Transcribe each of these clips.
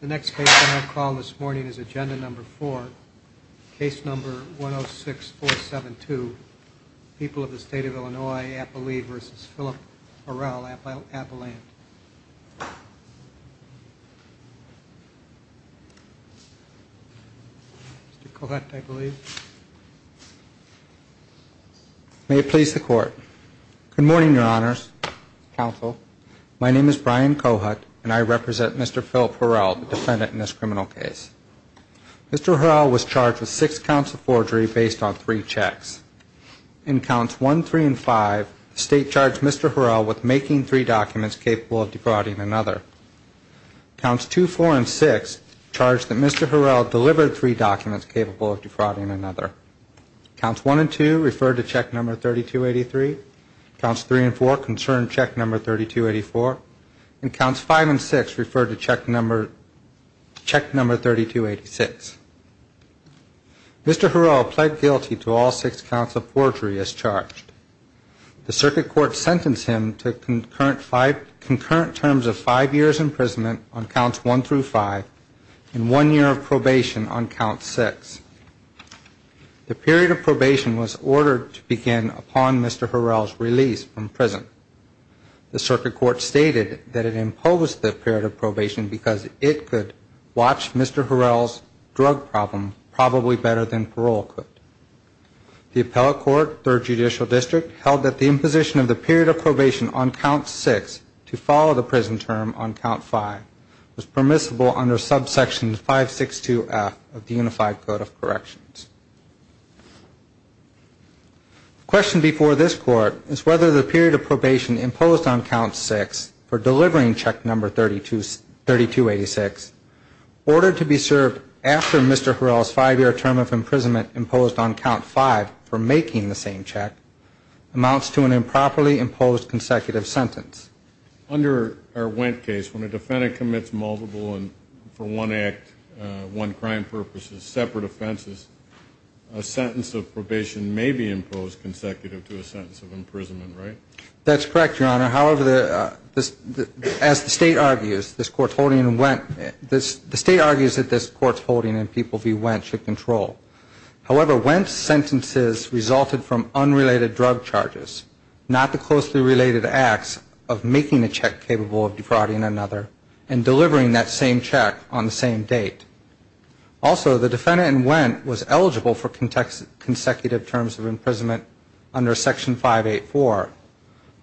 The next case on our call this morning is Agenda Number 4, Case Number 106472, People of the State of Illinois, Appalachia v. Philip Horrell, Appalachia. Mr. Kohut, I believe. May it please the Court. Good morning, Your Honors. Counsel. My name is Brian Kohut, and I represent Mr. Philip Horrell, the defendant in this criminal case. Mr. Horrell was charged with six counts of forgery based on three checks. In Counts 1, 3, and 5, the State charged Mr. Horrell with making three documents capable of defrauding another. Counts 2, 4, and 6 charge that Mr. Horrell delivered three documents capable of defrauding another. Counts 1 and 2 refer to Check Number 3283. Counts 3 and 4 concern Check Number 3284, and Counts 5 and 6 refer to Check Number 3286. Mr. Horrell pled guilty to all six counts of forgery as charged. The Circuit Court sentenced him to concurrent terms of five years' imprisonment on Counts 1 through 5 and one year of probation on Count 6. The period of probation was ordered to begin upon Mr. Horrell's release from prison. The Circuit Court stated that it imposed the period of probation because it could watch Mr. Horrell's drug problem probably better than parole could. The Appellate Court, Third Judicial District, held that the imposition of the period of probation on Count 6 to follow the prison term on Count 5 was permissible under Subsection 562F of the Unified Code of Corrections. The question before this Court is whether the period of probation imposed on Count 6 for delivering Check Number 3286, ordered to be served after Mr. Horrell's five-year term of imprisonment imposed on Count 5 for making the same check, amounts to an improperly imposed consecutive sentence. Under our Wendt case, when a defendant commits multiple and, for one act, one crime purposes, separate offenses, a sentence of probation may be imposed consecutive to a sentence of imprisonment, right? That's correct, Your Honor. However, as the State argues, this Court's holding in Wendt – the State argues that this Court's holding in people v. Wendt should control. However, Wendt's sentences resulted from unrelated drug charges, not the closely related acts of making a check capable of defrauding another and delivering that same check on the same date. Also, the defendant in Wendt was eligible for consecutive terms of imprisonment under Section 584.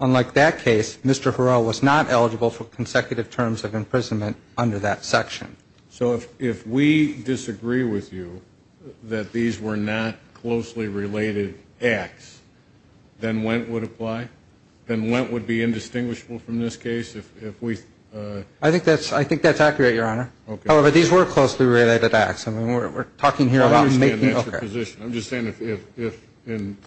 Unlike that case, Mr. Horrell was not eligible for consecutive terms of imprisonment under that section. So if we disagree with you that these were not closely related acts, then Wendt would apply? Then Wendt would be indistinguishable from this case if we – I think that's accurate, Your Honor. However, these were closely related acts. I mean, we're talking here about making – I understand that's your position. I'm just saying if, in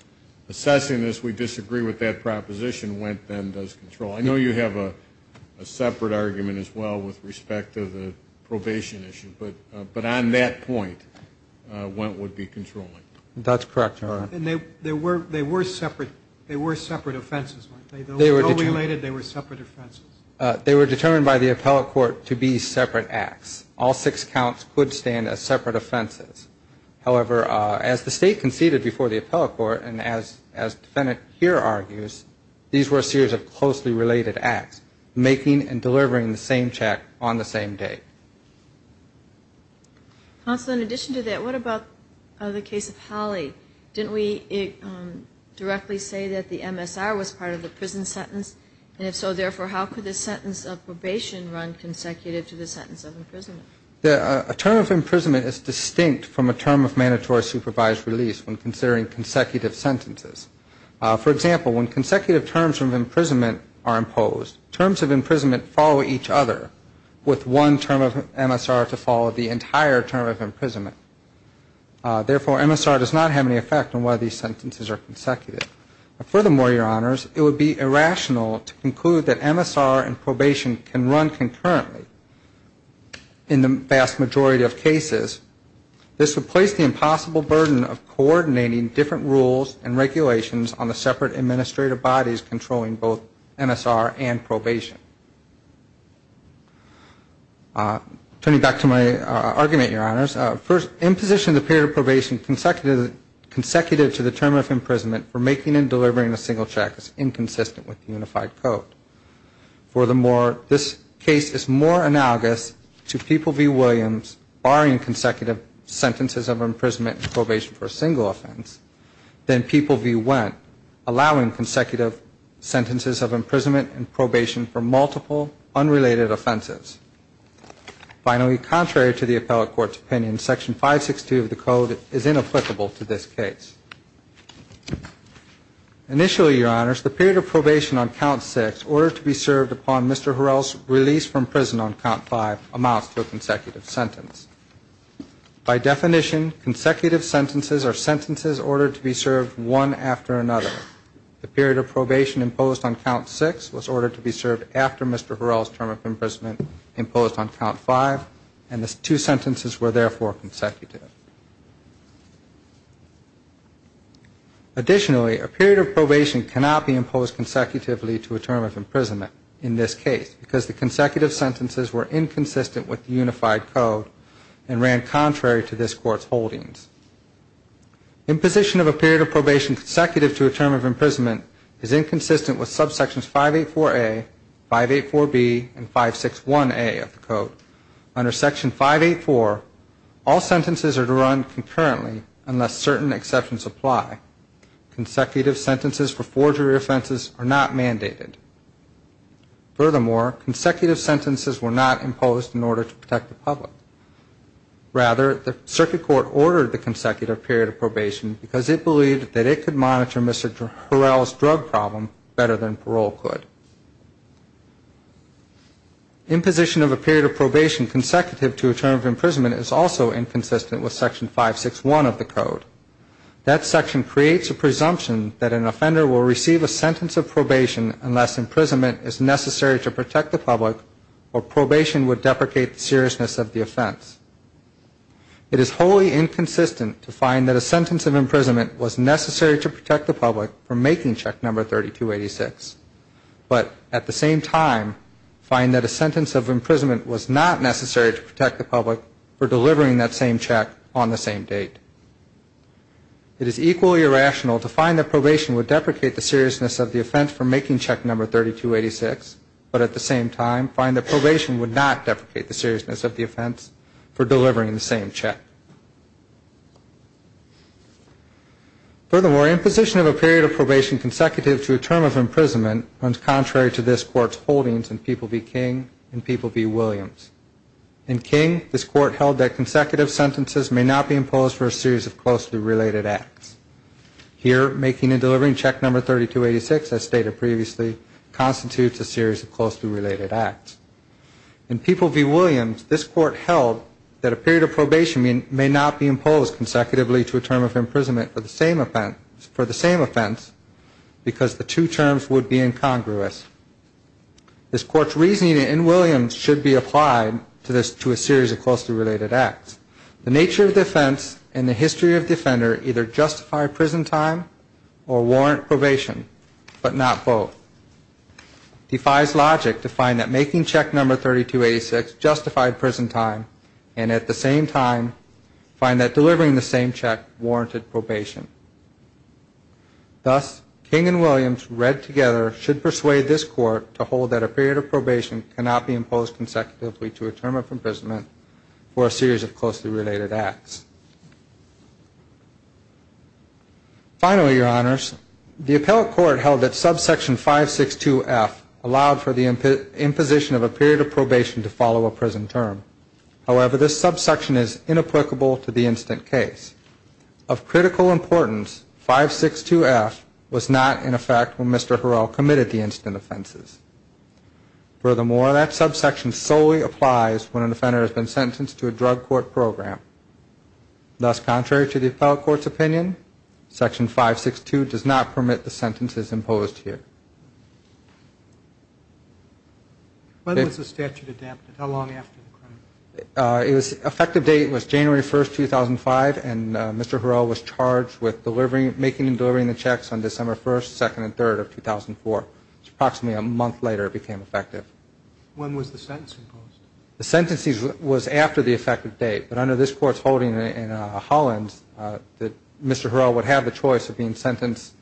assessing this, we disagree with that proposition, Wendt then does control. I know you have a separate argument as well with respect to the probation issue, but on that point, Wendt would be controlling. That's correct, Your Honor. And they were separate offenses, weren't they? They were co-related, they were separate offenses. They were determined by the appellate court to be separate acts. All six counts could stand as separate offenses. However, as the State conceded before the appellate court and as the defendant here argues, these were a series of closely related acts, making and delivering the same check on the same date. Counsel, in addition to that, what about the case of Holley? Didn't we directly say that the MSR was part of the prison sentence? And if so, therefore, how could the sentence of probation run consecutive to the sentence of imprisonment? A term of imprisonment is distinct from a term of mandatory supervised release when considering consecutive sentences. For example, when consecutive terms of imprisonment are used, it would require MSR to follow the entire term of imprisonment. Therefore, MSR does not have any effect on whether these sentences are consecutive. Furthermore, Your Honors, it would be irrational to conclude that MSR and probation can run concurrently in the vast majority of cases. This would place the impossible burden of coordinating different rules and regulations on the separate administrative bodies controlling both MSR and probation. Turning back to my argument, Your Honors, first, imposition of the period of probation consecutive to the term of imprisonment for making and delivering a single check is inconsistent with the Unified Code. Furthermore, this case is more analogous to People v. Williams barring consecutive sentences of imprisonment and probation for a single offense than People v. Wendt allowing consecutive sentences of imprisonment and probation for multiple unrelated offenses. Finally, contrary to the appellate court's opinion, Section 562 of the Code is inapplicable to this case. Initially, Your Honors, the period of probation on Count 6 ordered to be served upon Mr. Harrell's release from prison on Count 5 amounts to a consecutive sentence. By definition, consecutive sentences are sentences ordered to be served one after another. The period of probation imposed on Count 6 was ordered to be served after Mr. Harrell's term of imprisonment imposed on Count 5, and the two sentences were therefore consecutive. Additionally, a period of probation cannot be imposed consecutively to a term of imprisonment in this case because the consecutive sentences were inconsistent with the Unified Code and Imposition of a period of probation consecutive to a term of imprisonment is inconsistent with subsections 584A, 584B, and 561A of the Code. Under Section 584, all sentences are to run concurrently unless certain exceptions apply. Consecutive sentences for forgery offenses are not mandated. Furthermore, consecutive sentences were not imposed in order to protect the public. Rather, the Circuit Court ordered the consecutive period of probation because it believed that it could monitor Mr. Harrell's drug problem better than parole could. Imposition of a period of probation consecutive to a term of imprisonment is also inconsistent with Section 561 of the Code. That section creates a presumption that an offender will receive a sentence of probation unless imprisonment is necessary to protect the public or probation would deprecate the seriousness of the offense. It is wholly inconsistent to find that a sentence of imprisonment was necessary to protect the public for making check number 3286, but at the same time find that a sentence of imprisonment was not necessary to protect the public for delivering that same check on the same date. It is equally irrational to find that probation would deprecate the seriousness of the offense for making check number 3286, but at the same time find that probation would not deprecate the seriousness of the offense for delivering the same check. Furthermore, imposition of a period of probation consecutive to a term of imprisonment runs contrary to this Court's holdings in People v. King and People v. Williams. In King, this Court held that consecutive sentences may not be imposed for a series of closely related acts. Here, making and delivering check number 3286, as stated previously, constitutes a series of closely related acts. In People v. Williams, this Court held that a period of probation may not be imposed consecutively to a term of imprisonment for the same offense because the two terms would be incongruous. This Court's reasoning in Williams should be applied to a series of closely related acts. The nature of the offense and the history of the offender either justify prison time or warrant probation, but not both. Defies logic to find that making check number 3286 justified prison time and at the same time find that delivering the same check warranted probation. Thus, King and Williams read together should persuade this Court to hold that a period of probation cannot be imposed consecutively to a term of imprisonment for a series of closely related acts. Finally, Your Honors, the Appellate Court held that subsection 562F allowed for the imposition of a period of probation to follow a prison term. However, this subsection is inapplicable to the instant case. Of critical importance, 562F was not in effect when Mr. Harrell committed the instant offenses. Furthermore, that subsection solely applies when an offender has been sentenced to a drug court program. Thus, contrary to the Appellate Court's opinion, section 562 does not permit the sentences imposed here. When was the statute adapted? How long after the crime? Effective date was January 1st, 2005 and Mr. Harrell was charged with making and delivering the checks on December 1st, 2nd, and 3rd of 2004. Approximately a month later it became the effective date, but under this Court's holding in Hollins, Mr. Harrell would have the choice of being sentenced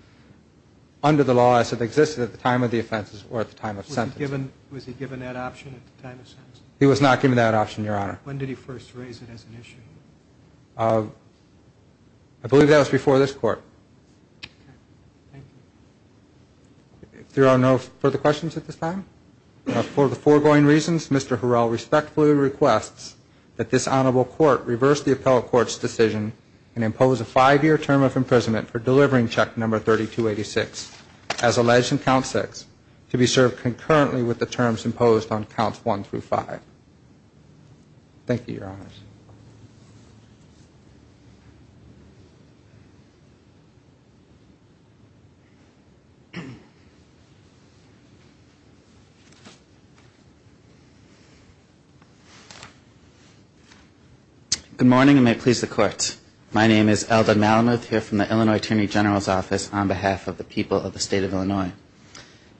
under the law as if it existed at the time of the offenses or at the time of sentencing. Was he given that option at the time of sentencing? He was not given that option, Your Honor. When did he first raise it as an issue? I believe that was before this Court. There are no further questions at this time. For the foregoing reasons, Mr. Harrell respectfully requests that this Honorable Court reverse the Appellate Court's decision and impose a five-year term of imprisonment for delivering check number 3286, as alleged in count 6, to be served concurrently with the terms imposed on counts 1 through 5. Thank you, Your Honors. Good morning and may it please the Court. My name is Eldon Malamuth here from the Illinois Attorney General's Office on behalf of the people of the State of Illinois.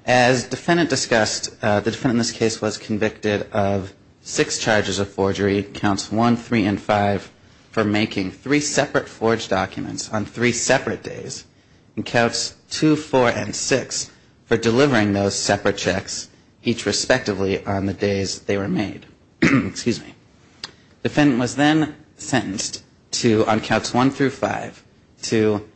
As the defendant discussed, the defendant in this case was convicted of six charges of forgery, counts 1, 3, and 5, for making three separate forged documents on three separate days and counts 2, 4, and 6 for delivering those separate checks each respectively on the days they were made. Defendant was then sentenced on counts 1 through 5 to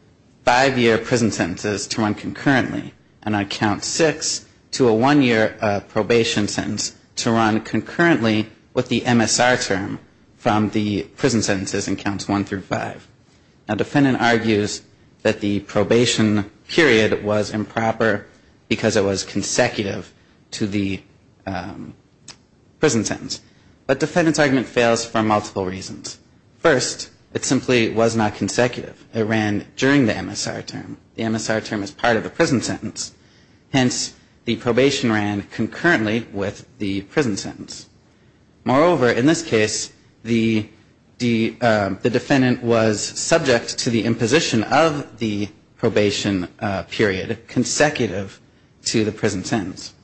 five-year prison sentences to run concurrently and on count 6 to a one-year probation sentence to run concurrently with the MSR term from the prison sentences in counts 1 through 5. Defendant argues that the probation period was improper because it was consecutive to the prison sentence, but defendant's argument fails for multiple reasons. First, it simply was not consecutive. It ran during the MSR term. The MSR term is part of the prison sentence. Hence, the probation ran concurrently with the prison sentence. Moreover, in this case, the defendant was subject to the imposition of the probation period consecutive to the prison sentence.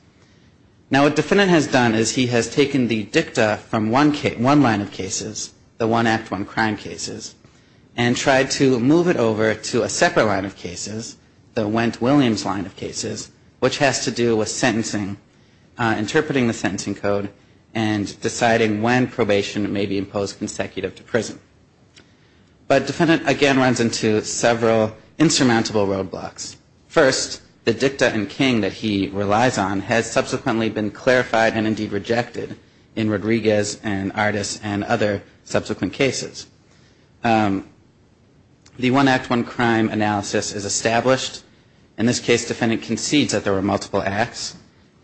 Now what defendant has done is he has taken the dicta from one line of cases, the one act one crime cases, and tried to move it over to a separate line of cases, the Wendt-Williams line of cases, which has to do with sentencing, interpreting the sentencing code, and deciding when probation may be imposed consecutive to prison. But defendant again runs into several insurmountable roadblocks. First, the dicta and king that he relies on has subsequently been clarified and indeed rejected in Rodriguez and Artis and other subsequent cases. The one act one crime analysis is established. In this case, defendant concedes that there were multiple acts.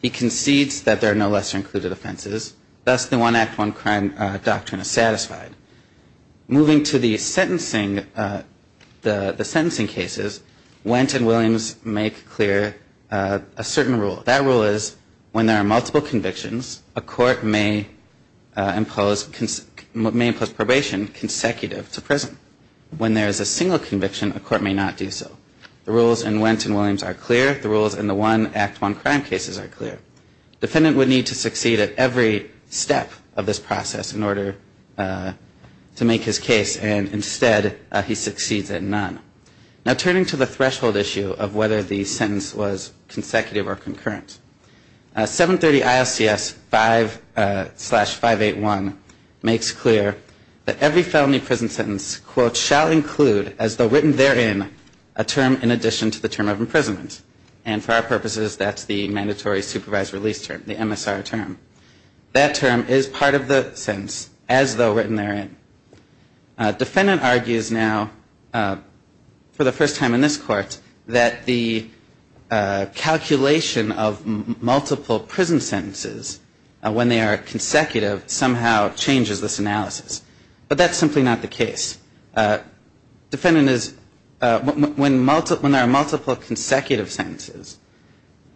He concedes that there are no lesser included offenses. Thus, the one act one crime doctrine is satisfied. Moving to the sentencing cases, Wendt and Williams make clear a certain rule. That rule is when there are multiple convictions, a court may impose probation consecutive to prison. When there is a single conviction, a court may not do so. The rules in Wendt and Williams are clear. The rules in the one act one crime cases are clear. Defendant would need to succeed at every step of this process in order to make his case and instead he succeeds at none. Now turning to the threshold issue of whether the sentence was consecutive or concurrent, 730 ILCS 5-581 makes clear that every felony prison sentence, quote, shall include, as though written therein, a term in addition to the term of imprisonment. And for our purposes, that's the mandatory supervised release term, the MSR term. That term is part of the sentence, as though written therein. Defendant argues now, for the first time in this court, that the calculation of multiple prison sentences when they are consecutive somehow changes this analysis. But that's simply not the case. Defendant is, when there are multiple consecutive sentences,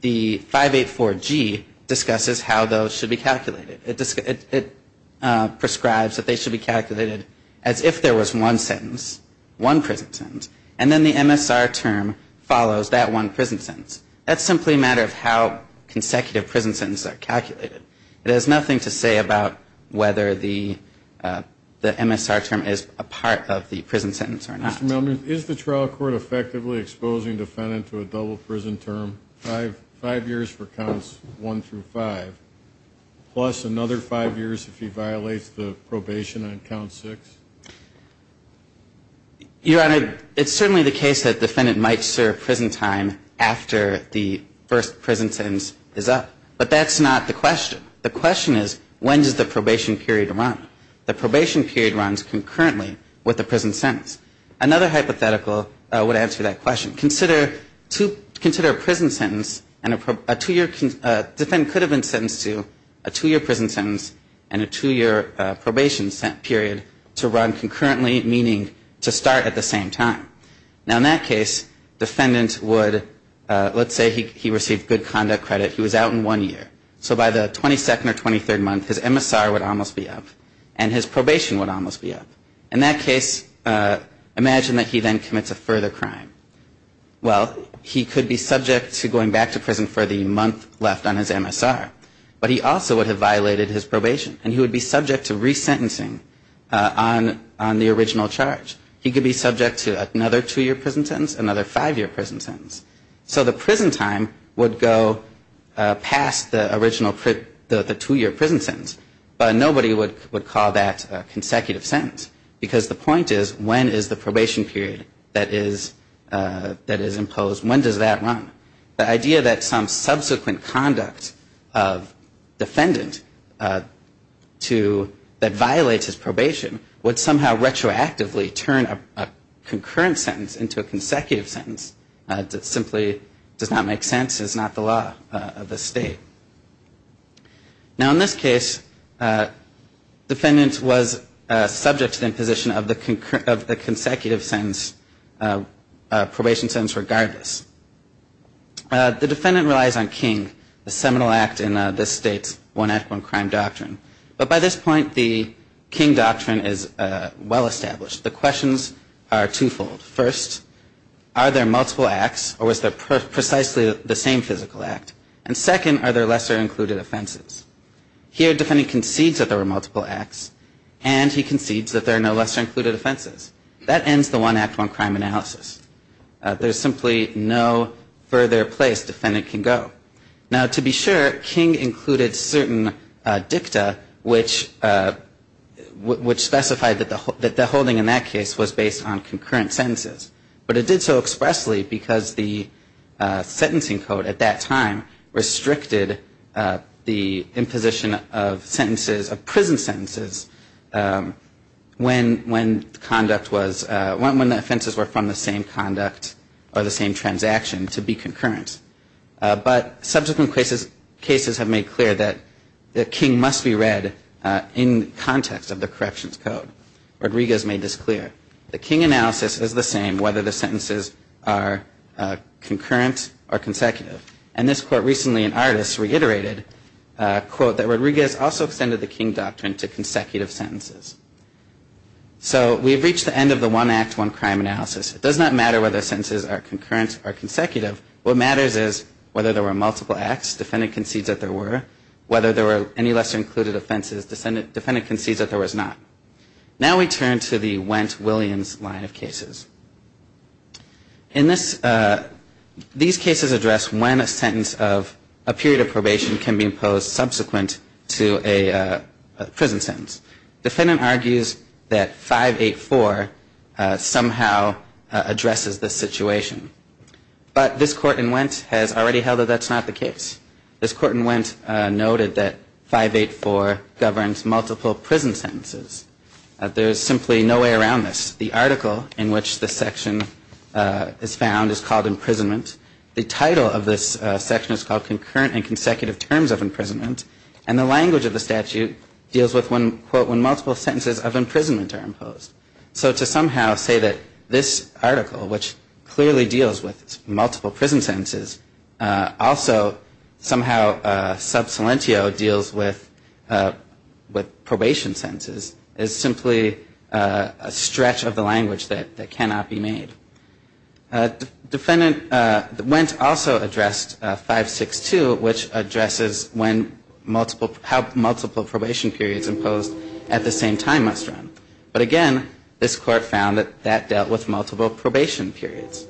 there the 584G discusses how those should be calculated. It prescribes that they should be calculated as if there was one sentence, one prison sentence, and then the MSR term follows that one prison sentence. That's simply a matter of how consecutive prison sentences are calculated. It has nothing to say about whether the MSR term is a part of the prison sentence or not. Mr. Milner, is the trial court effectively exposing defendant to a double prison term, five years for counts one through five, plus another five years if he violates the probation on count six? Your Honor, it's certainly the case that defendant might serve prison time after the first prison sentence is up. But that's not the question. The question is, when does the probation period run? The probation period runs concurrently with the prison sentence. Another hypothetical would answer that question. Consider two, consider a prison sentence, a two year, defendant could have been sentenced to a two year prison sentence and a two year probation period to run concurrently, meaning to start at the same time. Now in that case, defendant would, let's say he received good conduct credit, he was out in one year. So by the 22nd or 23rd he would almost be up. And his probation would almost be up. In that case, imagine that he then commits a further crime. Well, he could be subject to going back to prison for the month left on his MSR. But he also would have violated his probation and he would be subject to resentencing on the original charge. He could be subject to another two year prison sentence, another five year prison sentence. So the prison time would go past the original two year prison sentence. But nobody would call that a consecutive sentence. Because the point is, when is the probation period that is imposed, when does that run? The idea that some subsequent conduct of defendant that violates his probation would somehow retroactively turn a concurrent sentence into a consecutive sentence simply does not make sense. It's not the law of the state. Now in this case, defendant was subject to the imposition of the consecutive sentence, probation sentence regardless. The defendant relies on King, the seminal act in this state's one act, one crime doctrine. But by this point the King doctrine is well established. The questions are twofold. First, are there multiple acts or was there precisely the same physical act? And second, are there lesser included offenses? Here defendant concedes that there were multiple acts and he concedes that there are no lesser included offenses. That ends the one act, one crime analysis. There's simply no further place defendant can go. Now to be sure, King included certain dicta which specified that the holding in that case was based on concurrent sentences. But it did so expressly because the sentencing code at that time restricted the imposition of sentences, of prison sentences, when the offenses were from the same conduct or the same transaction to be concurrent. But subsequent cases have made clear that the King must be read in context of the corrections code. Rodriguez made this clear. The King analysis is the same whether the sentences are concurrent or consecutive. And this court recently in Ardis reiterated a quote that Rodriguez also extended the King doctrine to consecutive sentences. So we've reached the end of the one act, one crime analysis. It does not matter whether sentences are concurrent or consecutive. What matters is whether there were multiple acts. Defendant concedes that there were. Whether there were any lesser included offenses, defendant concedes that there was not. Now we turn to the Wendt-Williams line of cases. In this, these cases address when a sentence of a period of probation can be imposed subsequent to a prison sentence. Defendant argues that 584 somehow addresses this situation. But this court in Wendt has already held that that's not the case. This court in Wendt noted that 584 governs multiple prison sentences. There is simply no way around this. The article in which this section is found is called imprisonment. The title of this section is called concurrent and consecutive terms of imprisonment. And the language of the statute deals with when quote when multiple sentences of imprisonment are imposed. So to somehow say that this article, which clearly deals with multiple prison sentences, also somehow sub silentio deals with probation sentences is simply a stretch of the language that cannot be made. Defendant Wendt also addressed 562, which addresses when multiple, how multiple probation periods imposed at the same time must run. But again, this court found that that dealt with multiple probation periods.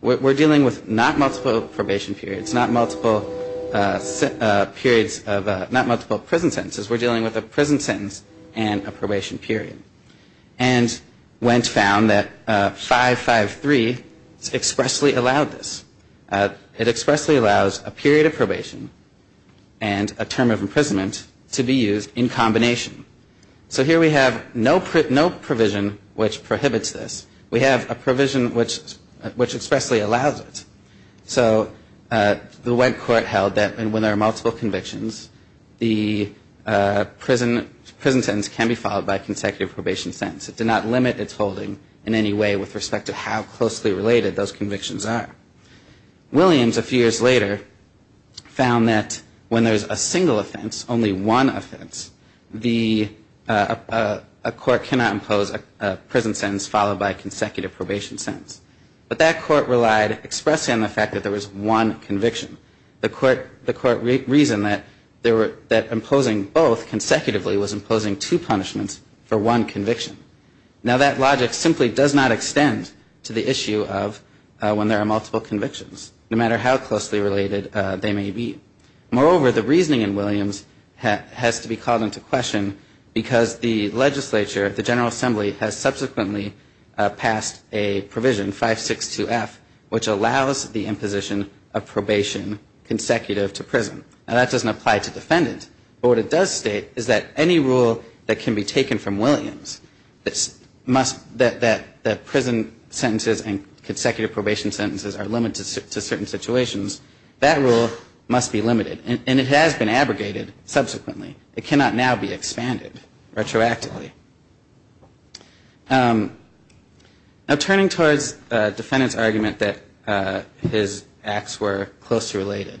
We're dealing with not multiple probation periods, not multiple periods of, not multiple prison sentences. We're dealing with a prison sentence and a probation period. And Wendt found that 553 expressly allowed this. It expressly allows a period of probation and a term of imprisonment to be used in combination. So here we have no provision which prohibits this. We have a provision which expressly allows it. So the Wendt court held that when there are multiple convictions, the prison sentence can be followed by a consecutive probation sentence. It did not limit its holding in any way with respect to how closely related those convictions are. Williams, a few years later, found that when there's a single offense, only one offense, the, a court cannot impose a prison sentence followed by a consecutive probation sentence. But that court relied expressly on the fact that there was one conviction. The court, the court reasoned that there were, that imposing both consecutively was imposing two punishments for one conviction. Now that logic simply does not extend to the issue of when there are multiple convictions, no matter how closely related they may be. Moreover, the reasoning in Williams has to be called into question because the legislature, the General Assembly, has subsequently passed a provision, 562F, which allows the imposition of probation consecutive to prison. Now that doesn't apply to defendant, but what it does state is that any rule that can be taken from Williams that must, that the prison sentences and consecutive probation sentences are limited to certain situations, that rule must be limited. And it has been abrogated subsequently. It cannot now be expanded retroactively. Now turning towards defendant's argument that his acts were close to related,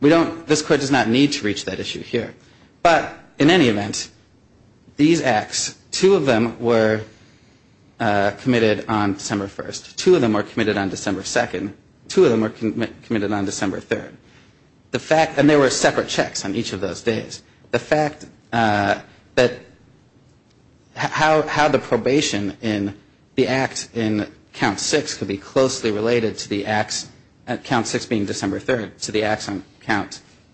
we don't, this court does not need to reach that issue here. But in any event, these acts, two of them were committed on December 1st. Two of them were committed on December 2nd. Two of them were committed on December 3rd. The fact, and there were separate checks on each of those days, the fact that how the probation in the act in Count 6 could be closely related to the acts, Count 6 being December 3rd, to the acts on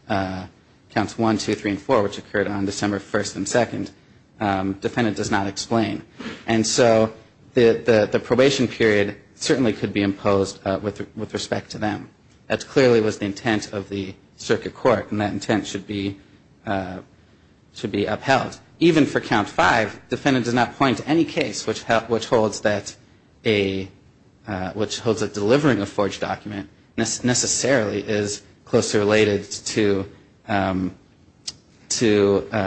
Counts 1, 2, 3, and 4, which occurred on December 1st and 2nd, defendant does not explain. And so the probation period certainly could be imposed with respect to them. That clearly was the intent of the circuit court and that intent should be upheld. Even for Count 5, defendant does not point to any case which holds that a, which holds that delivering a forged document necessarily is closely related to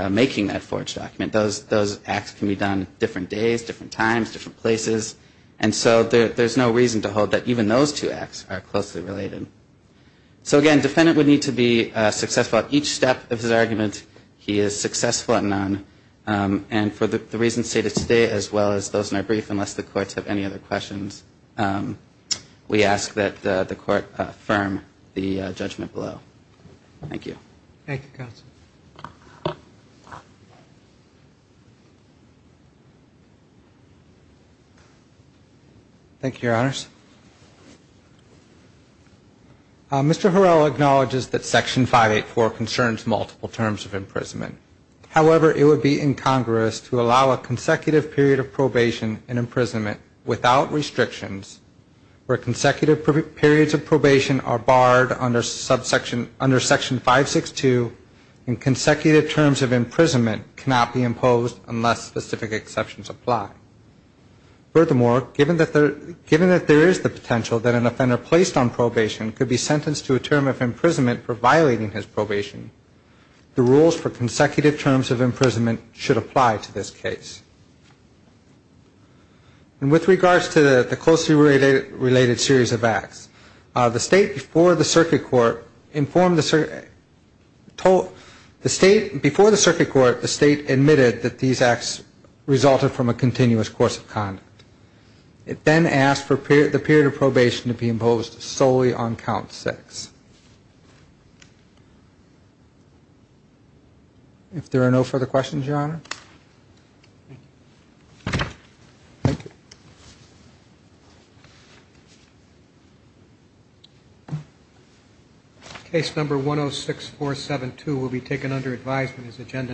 making that forged document. Those acts can be done different days, different times, different places. And so there's no reason to hold that even those two acts are successful at each step of his argument, he is successful at none. And for the reasons stated today as well as those in our brief, unless the courts have any other questions, we ask that the court affirm the judgment below. Thank you. Thank you, counsel. Thank you, Your Honors. Mr. Harrell acknowledges that Section 584 concerns multiple terms of imprisonment. However, it would be incongruous to allow a consecutive period of probation and imprisonment without restrictions where consecutive periods of probation are barred under Section 562 and consecutive terms of imprisonment cannot be imposed unless specific exceptions apply. Furthermore, given that there is the potential that an offender placed on probation could be sentenced to a term of imprisonment for violating his probation, the rules for consecutive terms of imprisonment should apply to this case. With regards to the closely related series of acts, the State before the Circuit Court admitted that these acts resulted from a continuous course of conduct. It then asked for the period of probation to be imposed solely on count six. If there are no further questions, Your Honor. Case number 106472 will be taken under advisement as agenda number 106472.